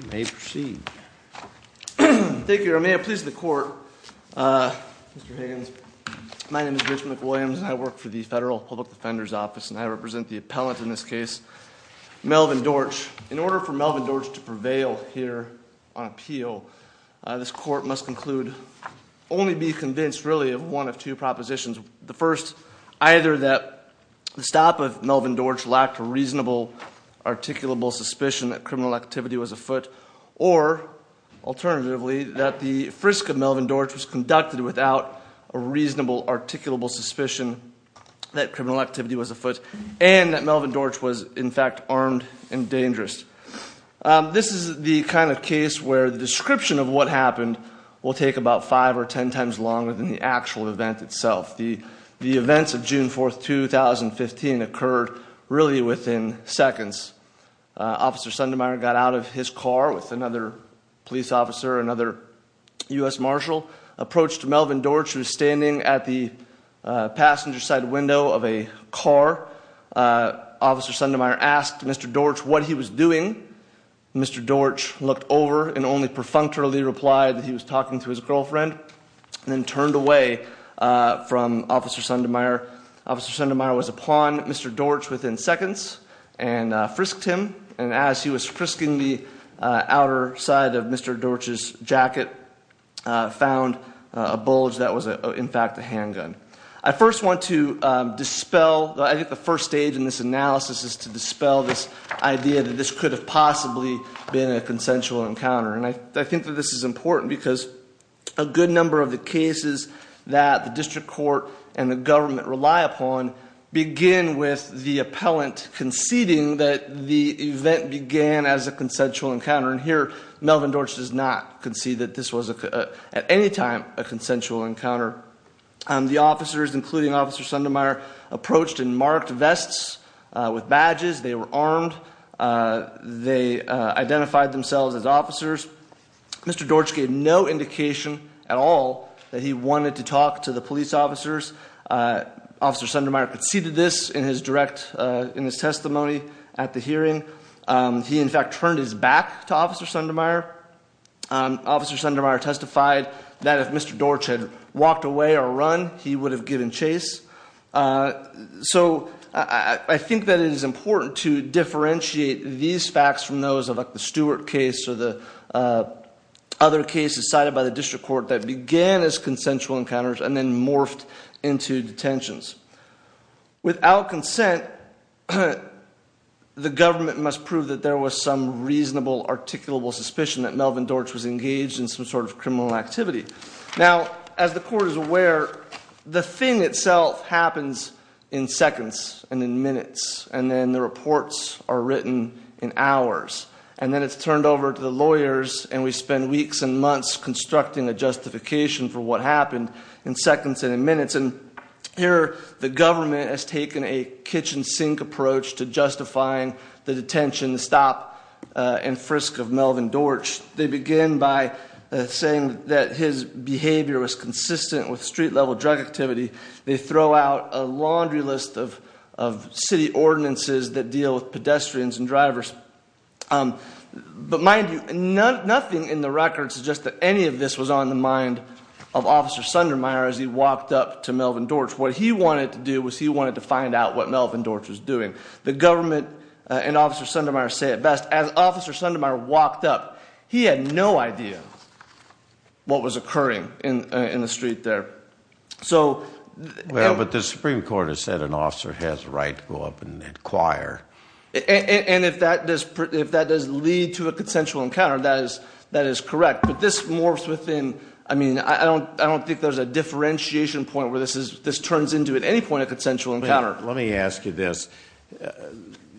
You may proceed. Thank you, Your Honor. May it please the court, Mr. Higgins, my name is Rich McWilliams and I work for the Federal Public Defender's Office and I represent the appellant in this case, Melvin Dortch. This is the kind of case where the description of what happened will take about five or ten times longer than the actual event itself. The events of June 4, 2015 occurred really within seconds. Officer Sundermeier got out of his car with another police officer, another U.S. Marshal, approached Melvin Dortch who was standing at the passenger side window of a car. Officer Sundermeier asked Mr. Dortch what he was doing. Mr. Dortch looked over and only perfunctorily replied that he was talking to his girlfriend and then turned away from Officer Sundermeier. Officer Sundermeier was upon Mr. Dortch within seconds and frisked him and as he was frisking the outer side of Mr. Dortch's jacket, found a bulge that was in fact a handgun. I first want to dispel, I think the first stage in this analysis is to dispel this idea that this could have possibly been a consensual encounter. I think that this is important because a good number of the cases that the district court and the government rely upon begin with the appellant conceding that the event began as a consensual encounter. Here, Melvin Dortch does not concede that this was at any time a consensual encounter. The officers, including Officer Sundermeier, approached in marked vests with badges, they were armed, they identified themselves as officers. Mr. Dortch gave no indication at all that he wanted to talk to the police officers. Officer Sundermeier conceded this in his testimony at the hearing. He in fact turned his back to Officer Sundermeier. Officer Sundermeier testified that if Mr. Dortch had walked away or run, he would have given chase. So I think that it is important to differentiate these facts from those of the Stewart case or the other cases cited by the district court that began as consensual encounters and then morphed into detentions. Without consent, the government must prove that there was some reasonable, articulable suspicion that Melvin Dortch was engaged in some sort of criminal activity. Now, as the court is aware, the thing itself happens in seconds and in minutes and then the reports are written in hours. And then it's turned over to the lawyers and we spend weeks and months constructing a justification for what happened in seconds and in minutes. And here the government has taken a kitchen sink approach to justifying the detention, the stop and frisk of Melvin Dortch. They begin by saying that his behavior was consistent with street level drug activity. They throw out a laundry list of city ordinances that deal with pedestrians and drivers. But mind you, nothing in the records suggests that any of this was on the mind of Officer Sundermeier as he walked up to Melvin Dortch. What he wanted to do was he wanted to find out what Melvin Dortch was doing. The government and Officer Sundermeier say it best. As Officer Sundermeier walked up, he had no idea what was occurring in the street there. Well, but the Supreme Court has said an officer has a right to go up and inquire. And if that does lead to a consensual encounter, that is correct. But this morphs within, I mean, I don't think there's a differentiation point where this turns into at any point a consensual encounter. Let me ask you this.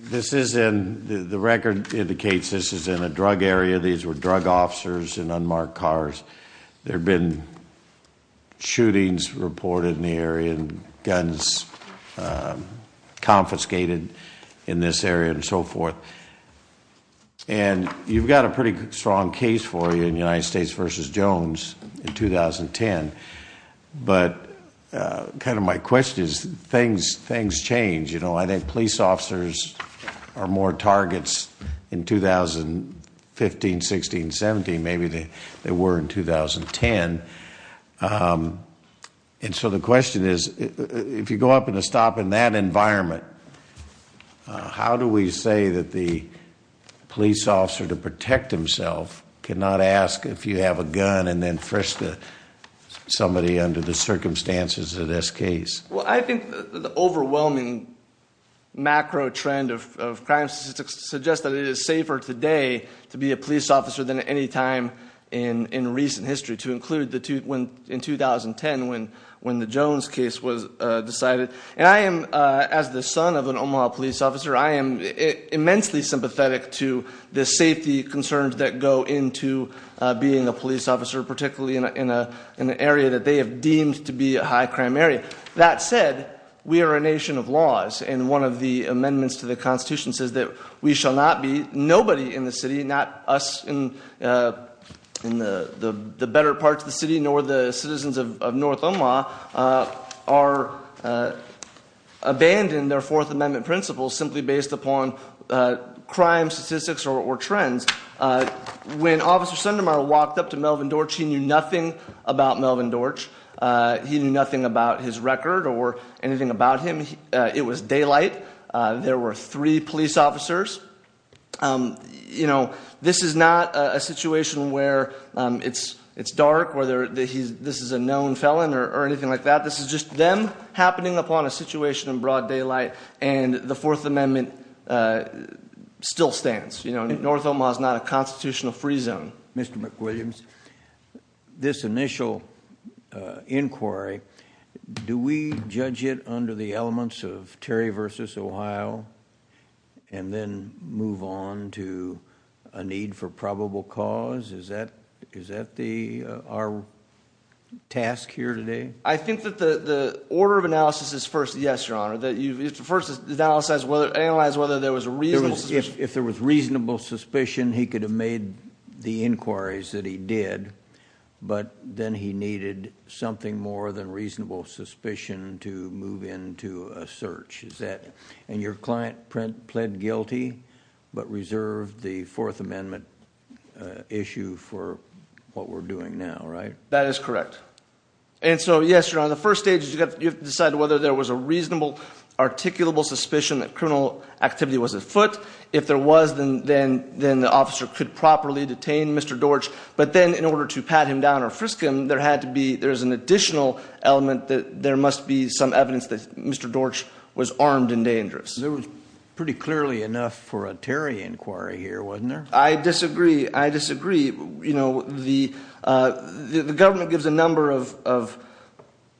The record indicates this is in a drug area. These were drug officers in unmarked cars. There have been shootings reported in the area and guns confiscated in this area and so forth. And you've got a pretty strong case for you in United States v. Jones in 2010. But kind of my question is things change. You know, I think police officers are more targets in 2015, 16, 17. Maybe they were in 2010. And so the question is, if you go up in a stop in that environment, how do we say that the police officer to protect himself cannot ask if you have a gun and then frisk somebody under the circumstances of this case? Well, I think the overwhelming macro trend of crime statistics suggests that it is safer today to be a police officer than at any time in recent history, to include in 2010 when the Jones case was decided. And I am, as the son of an Omaha police officer, I am immensely sympathetic to the safety concerns that go into being a police officer, particularly in an area that they have deemed to be a high crime area. That said, we are a nation of laws. And one of the amendments to the Constitution says that we shall not be, nobody in the city, not us in the better parts of the city nor the citizens of North Omaha, are abandoned their Fourth Amendment principles simply based upon crime statistics or trends. When Officer Sundermeyer walked up to Melvin Dorch, he knew nothing about Melvin Dorch. He knew nothing about his record or anything about him. It was daylight. There were three police officers. This is not a situation where it's dark, whether this is a known felon or anything like that. This is just them happening upon a situation in broad daylight, and the Fourth Amendment still stands. You know, North Omaha is not a constitutional free zone. Mr. McWilliams, this initial inquiry, do we judge it under the elements of Terry v. Ohio and then move on to a need for probable cause? Is that our task here today? I think that the order of analysis is first, yes, Your Honor, that you first analyze whether there was a reasonable suspicion. If there was reasonable suspicion, he could have made the inquiries that he did, but then he needed something more than reasonable suspicion to move into a search. And your client pled guilty but reserved the Fourth Amendment issue for what we're doing now, right? That is correct. And so, yes, Your Honor, the first stage is you have to decide whether there was a reasonable, articulable suspicion that criminal activity was at foot. If there was, then the officer could properly detain Mr. Dortch. But then in order to pat him down or frisk him, there had to be, there's an additional element that there must be some evidence that Mr. Dortch was armed and dangerous. There was pretty clearly enough for a Terry inquiry here, wasn't there? I disagree. I disagree. The government gives a number of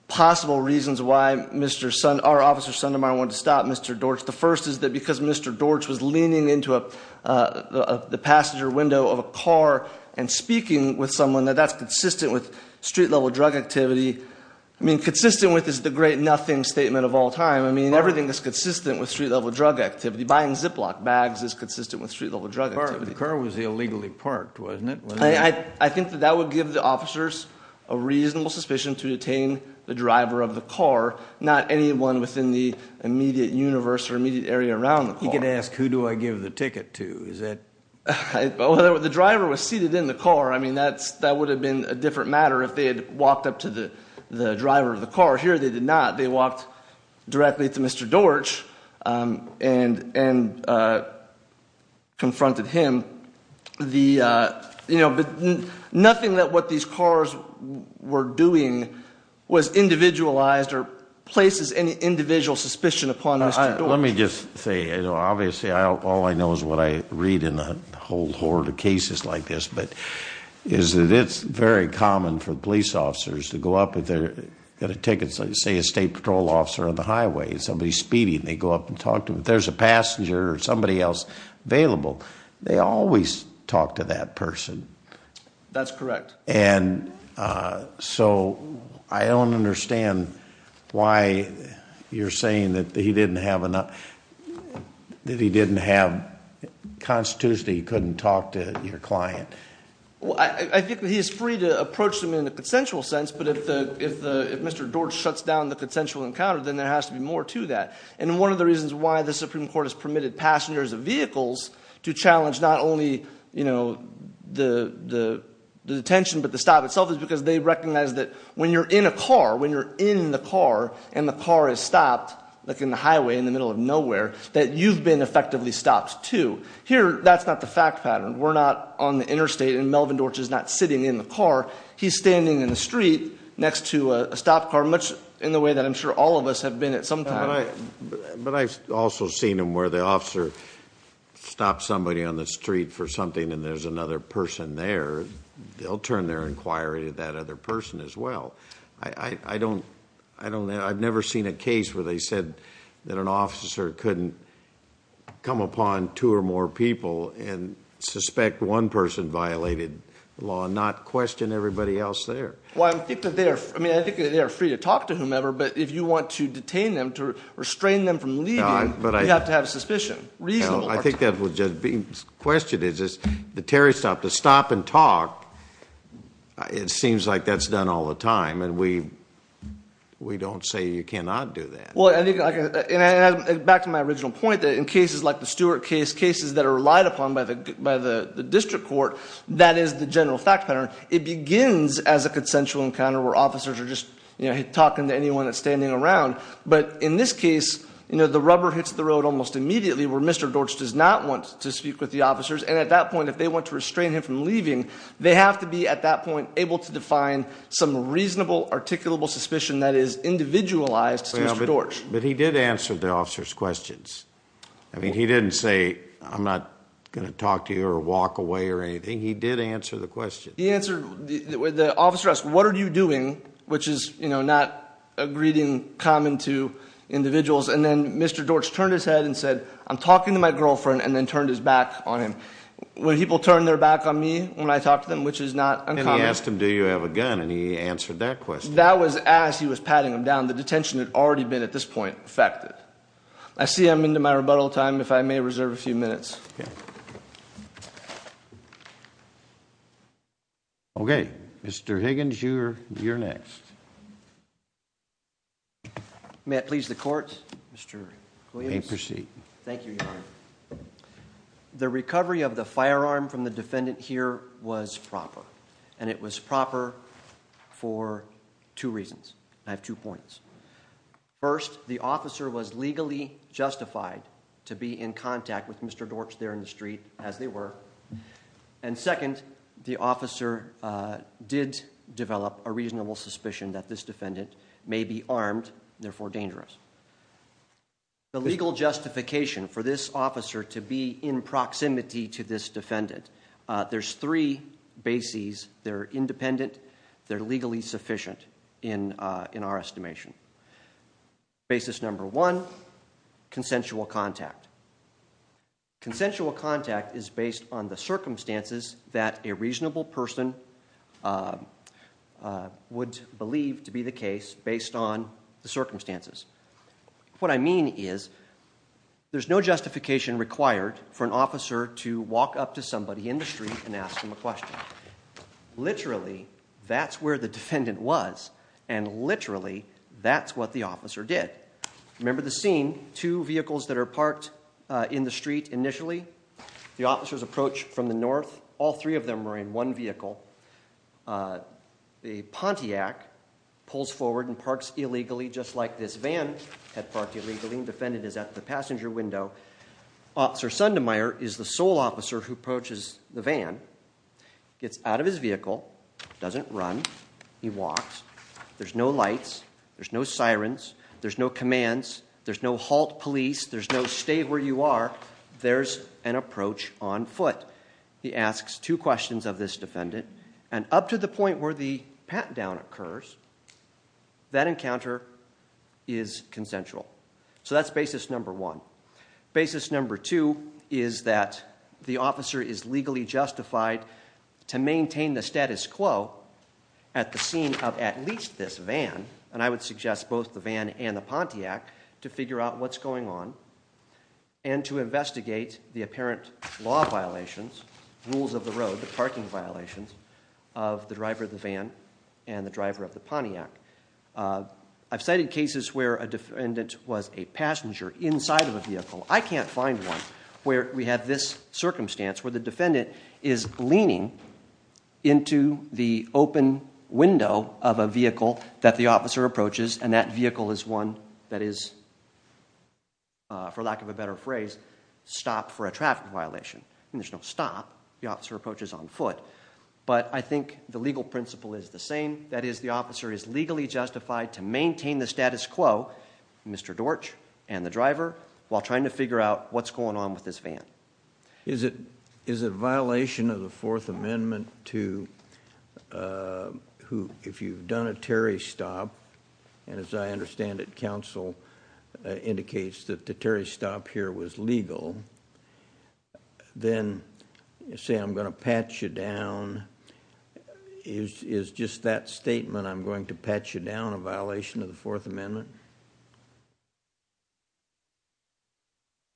possible reasons why our officer Sundermeyer wanted to stop Mr. Dortch. The first is that because Mr. Dortch was leaning into the passenger window of a car and speaking with someone that that's consistent with street-level drug activity. I mean, consistent with is the great nothing statement of all time. I mean, everything that's consistent with street-level drug activity, buying Ziploc bags is consistent with street-level drug activity. The car was illegally parked, wasn't it? I think that that would give the officers a reasonable suspicion to detain the driver of the car, not anyone within the immediate universe or immediate area around the car. You could ask, who do I give the ticket to? The driver was seated in the car. I mean, that would have been a different matter if they had walked up to the driver of the car. Here they did not. They walked directly to Mr. Dortch and confronted him. But nothing that what these cars were doing was individualized or places any individual suspicion upon Mr. Dortch. Let me just say, obviously all I know is what I read in a whole horde of cases like this, is that it's very common for police officers to go up if they've got a ticket, say a state patrol officer on the highway and somebody's speeding, they go up and talk to him. If there's a passenger or somebody else available, they always talk to that person. That's correct. And so I don't understand why you're saying that he didn't have enough, that he didn't have constitution, he couldn't talk to your client. I think he is free to approach them in a consensual sense, but if Mr. Dortch shuts down the consensual encounter, then there has to be more to that. And one of the reasons why the Supreme Court has permitted passengers of vehicles to challenge not only the detention, but the stop itself is because they recognize that when you're in a car, when you're in the car and the car is stopped, like in the highway in the middle of nowhere, that you've been effectively stopped too. Here, that's not the fact pattern. We're not on the interstate and Melvin Dortch is not sitting in the car. He's standing in the street next to a stop car much in the way that I'm sure all of us have been at some time. But I've also seen him where the officer stops somebody on the street for something and there's another person there. They'll turn their inquiry to that other person as well. I don't know. I've never seen a case where they said that an officer couldn't come upon two or more people and suspect one person violated the law and not question everybody else there. Well, I think that they are free to talk to whomever, but if you want to detain them, to restrain them from leaving, you have to have suspicion. I think that was just being questioned. The Terry stop, the stop and talk, it seems like that's done all the time, and we don't say you cannot do that. Well, I think, back to my original point, that in cases like the Stewart case, cases that are relied upon by the district court, that is the general fact pattern. It begins as a consensual encounter where officers are just talking to anyone that's standing around. But in this case, the rubber hits the road almost immediately where Mr. Dortch does not want to speak with the officers, and at that point, if they want to restrain him from leaving, they have to be, at that point, able to define some reasonable, articulable suspicion that is individualized to Mr. Dortch. But he did answer the officer's questions. I mean, he didn't say, I'm not going to talk to you or walk away or anything. He did answer the question. He answered the officer asked, what are you doing, which is not a greeting common to individuals, and then Mr. Dortch turned his head and said, I'm talking to my girlfriend, and then turned his back on him. When people turn their back on me when I talk to them, which is not uncommon. And he asked him, do you have a gun, and he answered that question. That was as he was patting him down. The detention had already been, at this point, effected. I see I'm into my rebuttal time, if I may reserve a few minutes. Yes. Okay, Mr. Higgins, you're next. May it please the court, Mr. Williams. You may proceed. Thank you, Your Honor. The recovery of the firearm from the defendant here was proper, and it was proper for two reasons. I have two points. First, the officer was legally justified to be in contact with Mr. Dortch there in the street, as they were. And second, the officer did develop a reasonable suspicion that this defendant may be armed, therefore dangerous. The legal justification for this officer to be in proximity to this defendant, there's three bases. They're independent, they're legally sufficient in our estimation. Basis number one, consensual contact. Consensual contact is based on the circumstances that a reasonable person would believe to be the case based on the circumstances. What I mean is, there's no justification required for an officer to walk up to somebody in the street and ask them a question. Literally, that's where the defendant was, and literally, that's what the officer did. Remember the scene, two vehicles that are parked in the street initially? The officers approach from the north. All three of them are in one vehicle. The Pontiac pulls forward and parks illegally, just like this van had parked illegally. The defendant is at the passenger window. Officer Sundermeier is the sole officer who approaches the van, gets out of his vehicle, doesn't run. He walks. There's no lights. There's no sirens. There's no commands. There's no halt police. There's no stay where you are. There's an approach on foot. He asks two questions of this defendant, and up to the point where the pat-down occurs, that encounter is consensual. So that's basis number one. Basis number two is that the officer is legally justified to maintain the status quo at the scene of at least this van. And I would suggest both the van and the Pontiac to figure out what's going on and to investigate the apparent law violations, rules of the road, the parking violations of the driver of the van and the driver of the Pontiac. I've cited cases where a defendant was a passenger inside of a vehicle. I can't find one where we have this circumstance where the defendant is leaning into the open window of a vehicle that the officer approaches, and that vehicle is one that is, for lack of a better phrase, stopped for a traffic violation. There's no stop. The officer approaches on foot. But I think the legal principle is the same. That is, the officer is legally justified to maintain the status quo, Mr. Dortch and the driver, while trying to figure out what's going on with this van. Is it a violation of the Fourth Amendment to, if you've done a Terry stop, and as I understand it, counsel indicates that the Terry stop here was legal, then say I'm going to patch you down. Is just that statement, I'm going to patch you down, a violation of the Fourth Amendment?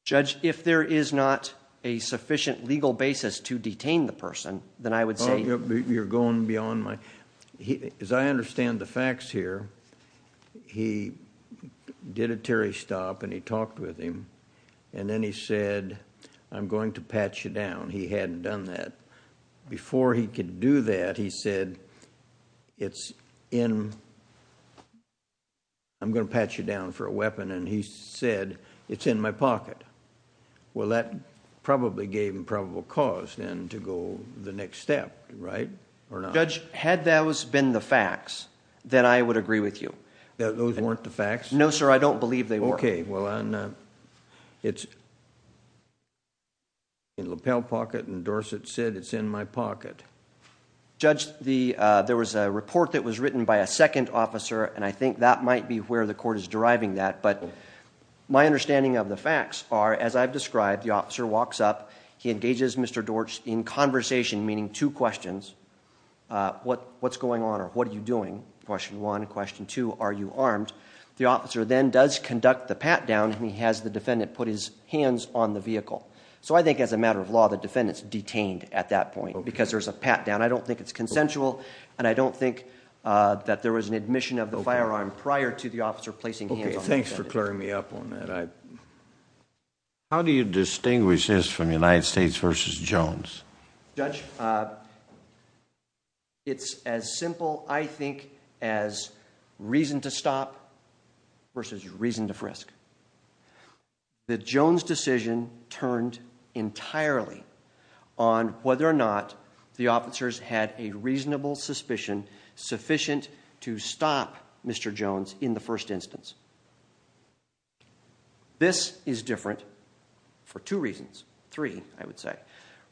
Judge, if there is not a sufficient legal basis to detain the person, then I would say... You're going beyond my... As I understand the facts here, he did a Terry stop, and he talked with him, and then he said, I'm going to patch you down. He hadn't done that. Before he could do that, he said, it's in... I'm going to patch you down for a weapon, and he said, it's in my pocket. Well, that probably gave him probable cause then to go the next step, right, or not? Judge, had those been the facts, then I would agree with you. Those weren't the facts? No, sir. I don't believe they were. Okay. Well, it's in the lapel pocket, and Dorsett said, it's in my pocket. Judge, there was a report that was written by a second officer, and I think that might be where the court is deriving that. My understanding of the facts are, as I've described, the officer walks up, he engages Mr. Dorsch in conversation, meaning two questions. What's going on, or what are you doing? Question one. Question two. Are you armed? The officer then does conduct the pat-down, and he has the defendant put his hands on the vehicle. So I think as a matter of law, the defendant's detained at that point because there's a pat-down. I don't think it's consensual, and I don't think that there was an admission of the firearm prior to the officer placing hands on the defendant. Okay. Thanks for clearing me up on that. How do you distinguish this from United States v. Jones? Judge, it's as simple, I think, as reason to stop versus reason to frisk. The Jones decision turned entirely on whether or not the officers had a reasonable suspicion sufficient to stop Mr. Jones in the first instance. This is different for two reasons. Three, I would say.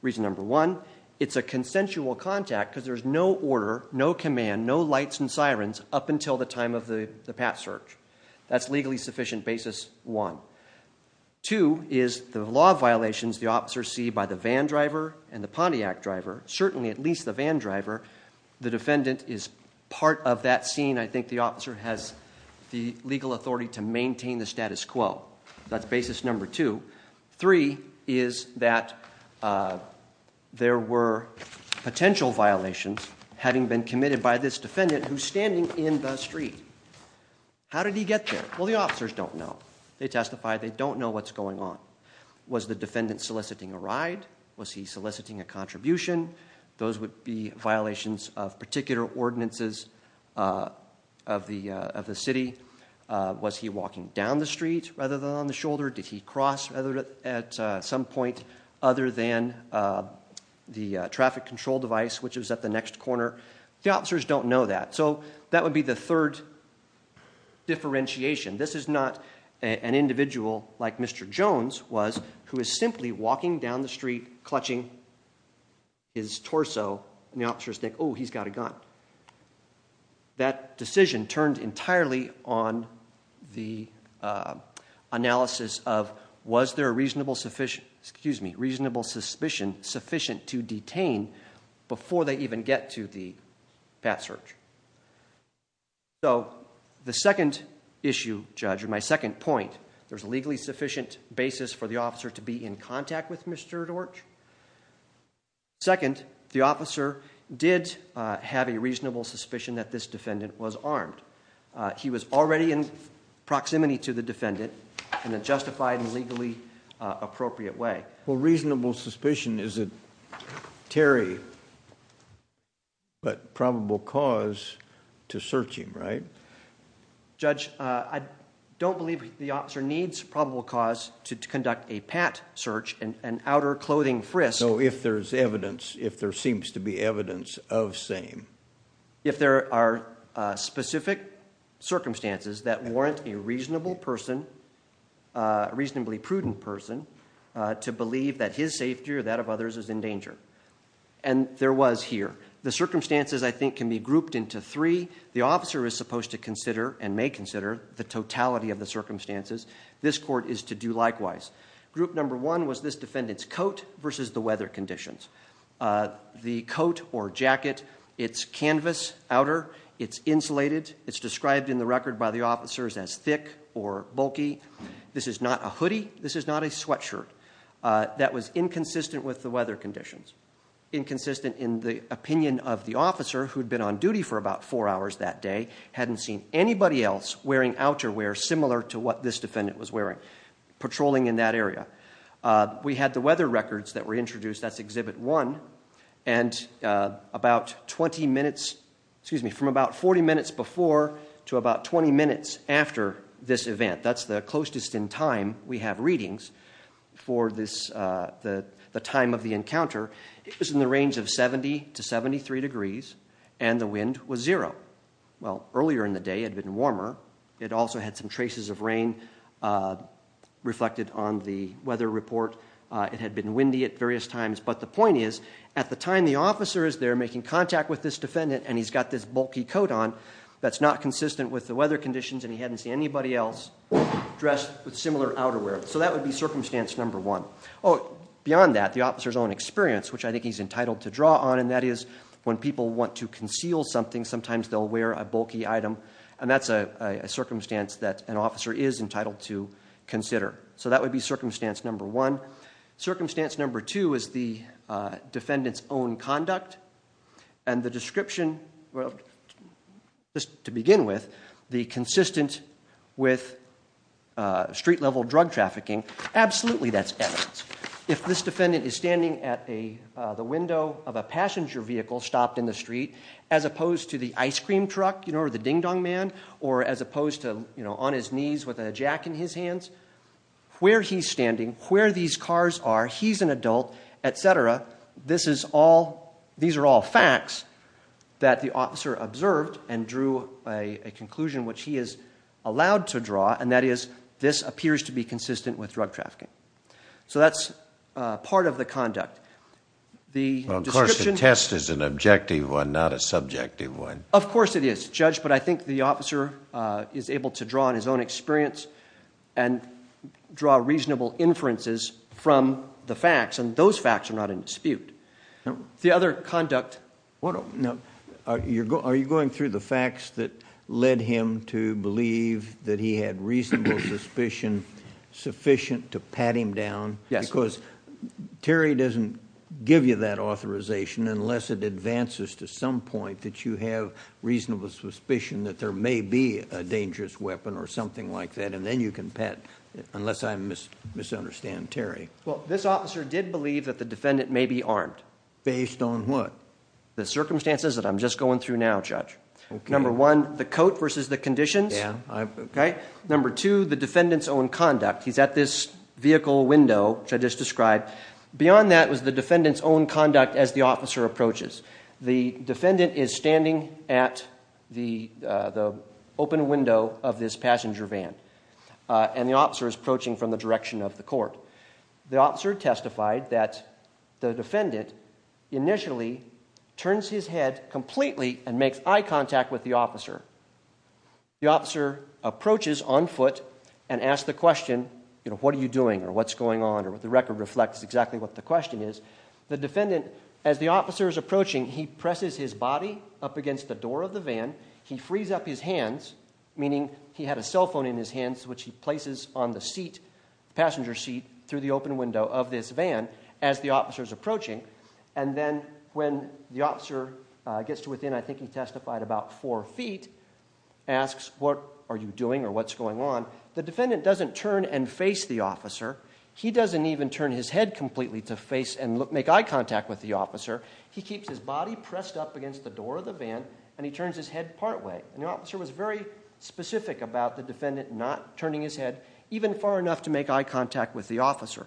Reason number one, it's a consensual contact because there's no order, no command, no lights and sirens up until the time of the pat search. That's legally sufficient basis one. Two is the law violations the officers see by the van driver and the Pontiac driver, certainly at least the van driver. The defendant is part of that scene. I think the officer has the legal authority to maintain the status quo. That's basis number two. Three is that there were potential violations having been committed by this defendant who's standing in the street. How did he get there? Well, the officers don't know. They testify. They don't know what's going on. Was the defendant soliciting a ride? Was he soliciting a contribution? Those would be violations of particular ordinances of the city. Was he walking down the street rather than on the shoulder? Did he cross at some point other than the traffic control device, which is at the next corner? The officers don't know that. So that would be the third differentiation. This is not an individual like Mr. Jones who is simply walking down the street, clutching his torso, and the officers think, oh, he's got a gun. That decision turned entirely on the analysis of was there a reasonable suspicion sufficient to detain before they even get to the pat search? So the second issue, Judge, or my second point, there's a legally sufficient basis for the officer to be in contact with Mr. Dorch. Second, the officer did have a reasonable suspicion that this defendant was armed. He was already in proximity to the defendant in a justified and legally appropriate way. Well, reasonable suspicion is a terry, but probable cause to search him, right? Judge, I don't believe the officer needs probable cause to conduct a pat search, an outer clothing frisk. So if there's evidence, if there seems to be evidence of same. If there are specific circumstances that warrant a reasonable person, reasonably prudent person, to believe that his safety or that of others is in danger. And there was here. The circumstances, I think, can be grouped into three. The officer is supposed to consider and may consider the totality of the circumstances. This court is to do likewise. Group number one was this defendant's coat versus the weather conditions. The coat or jacket, it's canvas outer. It's insulated. It's described in the record by the officers as thick or bulky. This is not a hoodie. This is not a sweatshirt. That was inconsistent with the weather conditions. Inconsistent in the opinion of the officer who'd been on duty for about four hours that day. Hadn't seen anybody else wearing outerwear similar to what this defendant was wearing, patrolling in that area. We had the weather records that were introduced. That's exhibit one. And about 20 minutes, excuse me, from about 40 minutes before to about 20 minutes after this event, that's the closest in time we have readings for the time of the encounter, it was in the range of 70 to 73 degrees, and the wind was zero. Well, earlier in the day it had been warmer. It also had some traces of rain reflected on the weather report. It had been windy at various times. But the point is at the time the officer is there making contact with this defendant and he's got this bulky coat on that's not consistent with the weather conditions and he hadn't seen anybody else dressed with similar outerwear. So that would be circumstance number one. Oh, beyond that, the officer's own experience, which I think he's entitled to draw on, and that is when people want to conceal something, sometimes they'll wear a bulky item. And that's a circumstance that an officer is entitled to consider. So that would be circumstance number one. Circumstance number two is the defendant's own conduct. And the description, well, just to begin with, the consistent with street-level drug trafficking, absolutely that's evidence. If this defendant is standing at the window of a passenger vehicle stopped in the street, as opposed to the ice cream truck or the ding-dong man, or as opposed to on his knees with a jack in his hands, where he's standing, where these cars are, he's an adult, et cetera, these are all facts that the officer observed and drew a conclusion which he is allowed to draw, and that is this appears to be consistent with drug trafficking. So that's part of the conduct. Well, of course, the test is an objective one, not a subjective one. Of course it is, Judge, but I think the officer is able to draw on his own experience and draw reasonable inferences from the facts, and those facts are not in dispute. The other conduct. Are you going through the facts that led him to believe that he had reasonable suspicion sufficient to pat him down? Yes. Because Terry doesn't give you that authorization unless it advances to some point that you have reasonable suspicion that there may be a dangerous weapon or something like that, and then you can pat, unless I misunderstand Terry. Well, this officer did believe that the defendant may be armed. Based on what? The circumstances that I'm just going through now, Judge. Number one, the coat versus the conditions. Number two, the defendant's own conduct. He's at this vehicle window, which I just described. Beyond that was the defendant's own conduct as the officer approaches. The defendant is standing at the open window of this passenger van, and the officer is approaching from the direction of the court. The officer testified that the defendant initially turns his head completely and makes eye contact with the officer. The officer approaches on foot and asks the question, you know, what are you doing or what's going on or what the record reflects exactly what the question is. The defendant, as the officer is approaching, he presses his body up against the door of the van. He frees up his hands, meaning he had a cell phone in his hands, which he places on the passenger seat through the open window of this van as the officer is approaching. And then when the officer gets to within, I think he testified about four feet, asks what are you doing or what's going on. The defendant doesn't turn and face the officer. He doesn't even turn his head completely to face and make eye contact with the officer. He keeps his body pressed up against the door of the van, and he turns his head partway. And the officer was very specific about the defendant not turning his head even far enough to make eye contact with the officer.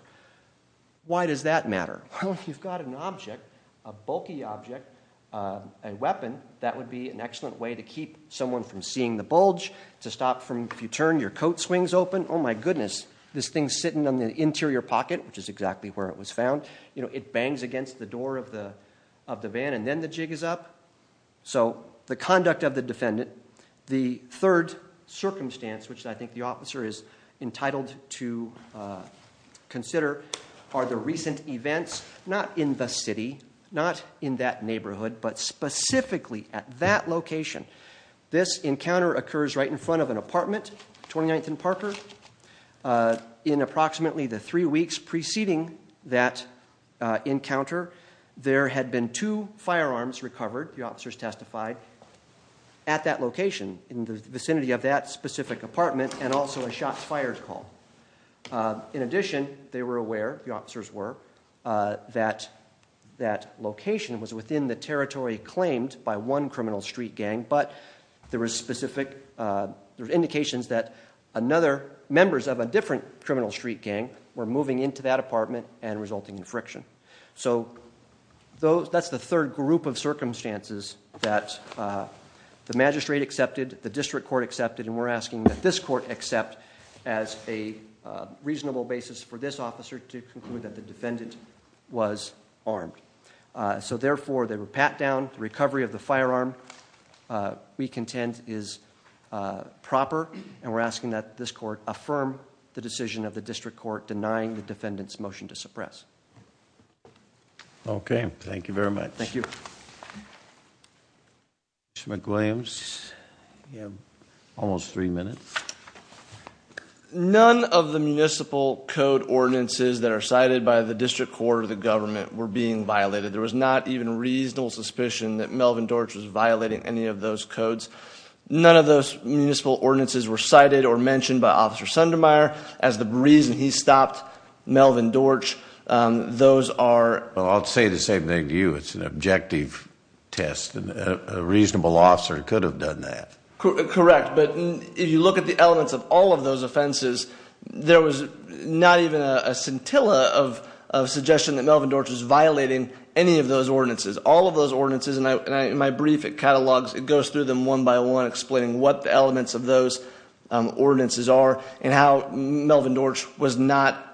Why does that matter? Well, if you've got an object, a bulky object, a weapon, that would be an excellent way to keep someone from seeing the bulge, to stop from, if you turn, your coat swings open. Oh my goodness, this thing's sitting on the interior pocket, which is exactly where it was found. You know, it bangs against the door of the van, and then the jig is up. So the conduct of the defendant, the third circumstance, which I think the officer is entitled to consider, are the recent events, not in the city, not in that neighborhood, but specifically at that location. This encounter occurs right in front of an apartment, 29th and Parker. In approximately the three weeks preceding that encounter, there had been two firearms recovered, the officers testified, at that location, in the vicinity of that specific apartment, and also a shots fired call. In addition, they were aware, the officers were, that that location was within the territory claimed by one criminal street gang, but there were indications that members of a different criminal street gang were moving into that apartment and resulting in friction. So that's the third group of circumstances that the magistrate accepted, the district court accepted, and we're asking that this court accept as a reasonable basis for this officer to conclude that the defendant was armed. So therefore, they were pat down, the recovery of the firearm we contend is proper, and we're asking that this court affirm the decision of the district court denying the defendant's motion to suppress. Okay, thank you very much. Thank you. Mr. McWilliams, you have almost three minutes. None of the municipal code ordinances that are cited by the district court or the government were being violated. There was not even reasonable suspicion that Melvin Dorch was violating any of those codes. None of those municipal ordinances were cited or mentioned by Officer Sundermeyer as the reason he stopped Melvin Dorch. I'll say the same thing to you. It's an objective test, and a reasonable officer could have done that. Correct, but if you look at the elements of all of those offenses, there was not even a scintilla of suggestion that Melvin Dorch was violating any of those ordinances. All of those ordinances, and in my brief, it goes through them one by one, explaining what the elements of those ordinances are and how Melvin Dorch was not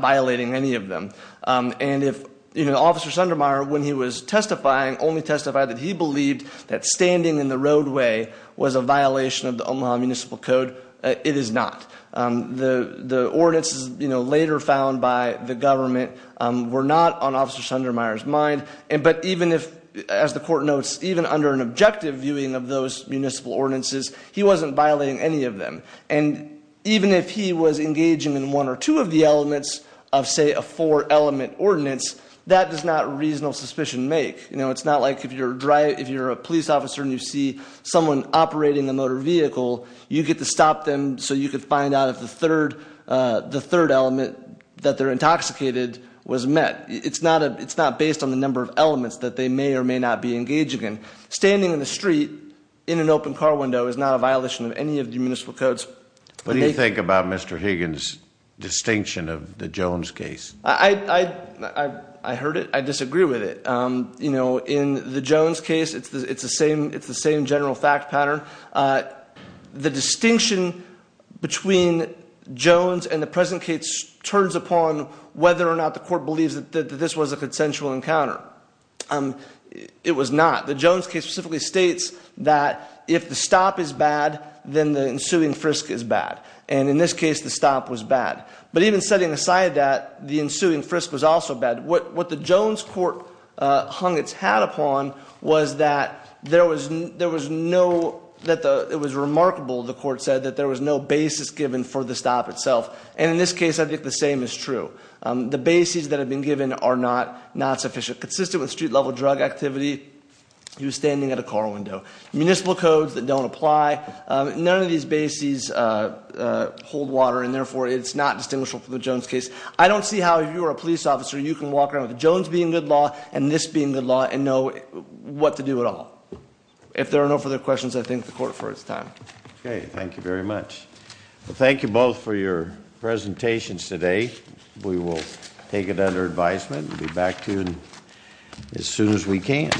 violating any of them. And if Officer Sundermeyer, when he was testifying, only testified that he believed that standing in the roadway was a violation of the Omaha Municipal Code, it is not. The ordinances later found by the government were not on Officer Sundermeyer's mind, but even if, as the court notes, even under an objective viewing of those municipal ordinances, he wasn't violating any of them. And even if he was engaging in one or two of the elements of, say, a four-element ordinance, that does not reasonable suspicion make. It's not like if you're a police officer and you see someone operating a motor vehicle, you get to stop them so you can find out if the third element that they're intoxicated was met. It's not based on the number of elements that they may or may not be engaging in. Standing in the street in an open car window is not a violation of any of the municipal codes. What do you think about Mr. Higgins' distinction of the Jones case? I heard it. I disagree with it. In the Jones case, it's the same general fact pattern. The distinction between Jones and the present case turns upon whether or not the court believes that this was a consensual encounter. It was not. The Jones case specifically states that if the stop is bad, then the ensuing frisk is bad. And in this case, the stop was bad. But even setting aside that, the ensuing frisk was also bad. What the Jones court hung its hat upon was that it was remarkable, the court said, that there was no basis given for the stop itself. And in this case, I think the same is true. The bases that have been given are not sufficient. Consistent with street-level drug activity, he was standing at a car window. Municipal codes that don't apply. None of these bases hold water, and therefore it's not distinguishable from the Jones case. I don't see how, if you were a police officer, you can walk around with Jones being good law and this being good law and know what to do at all. If there are no further questions, I thank the court for its time. Okay. Thank you very much. Thank you both for your presentations today. We will take it under advisement. We'll be back to you as soon as we can.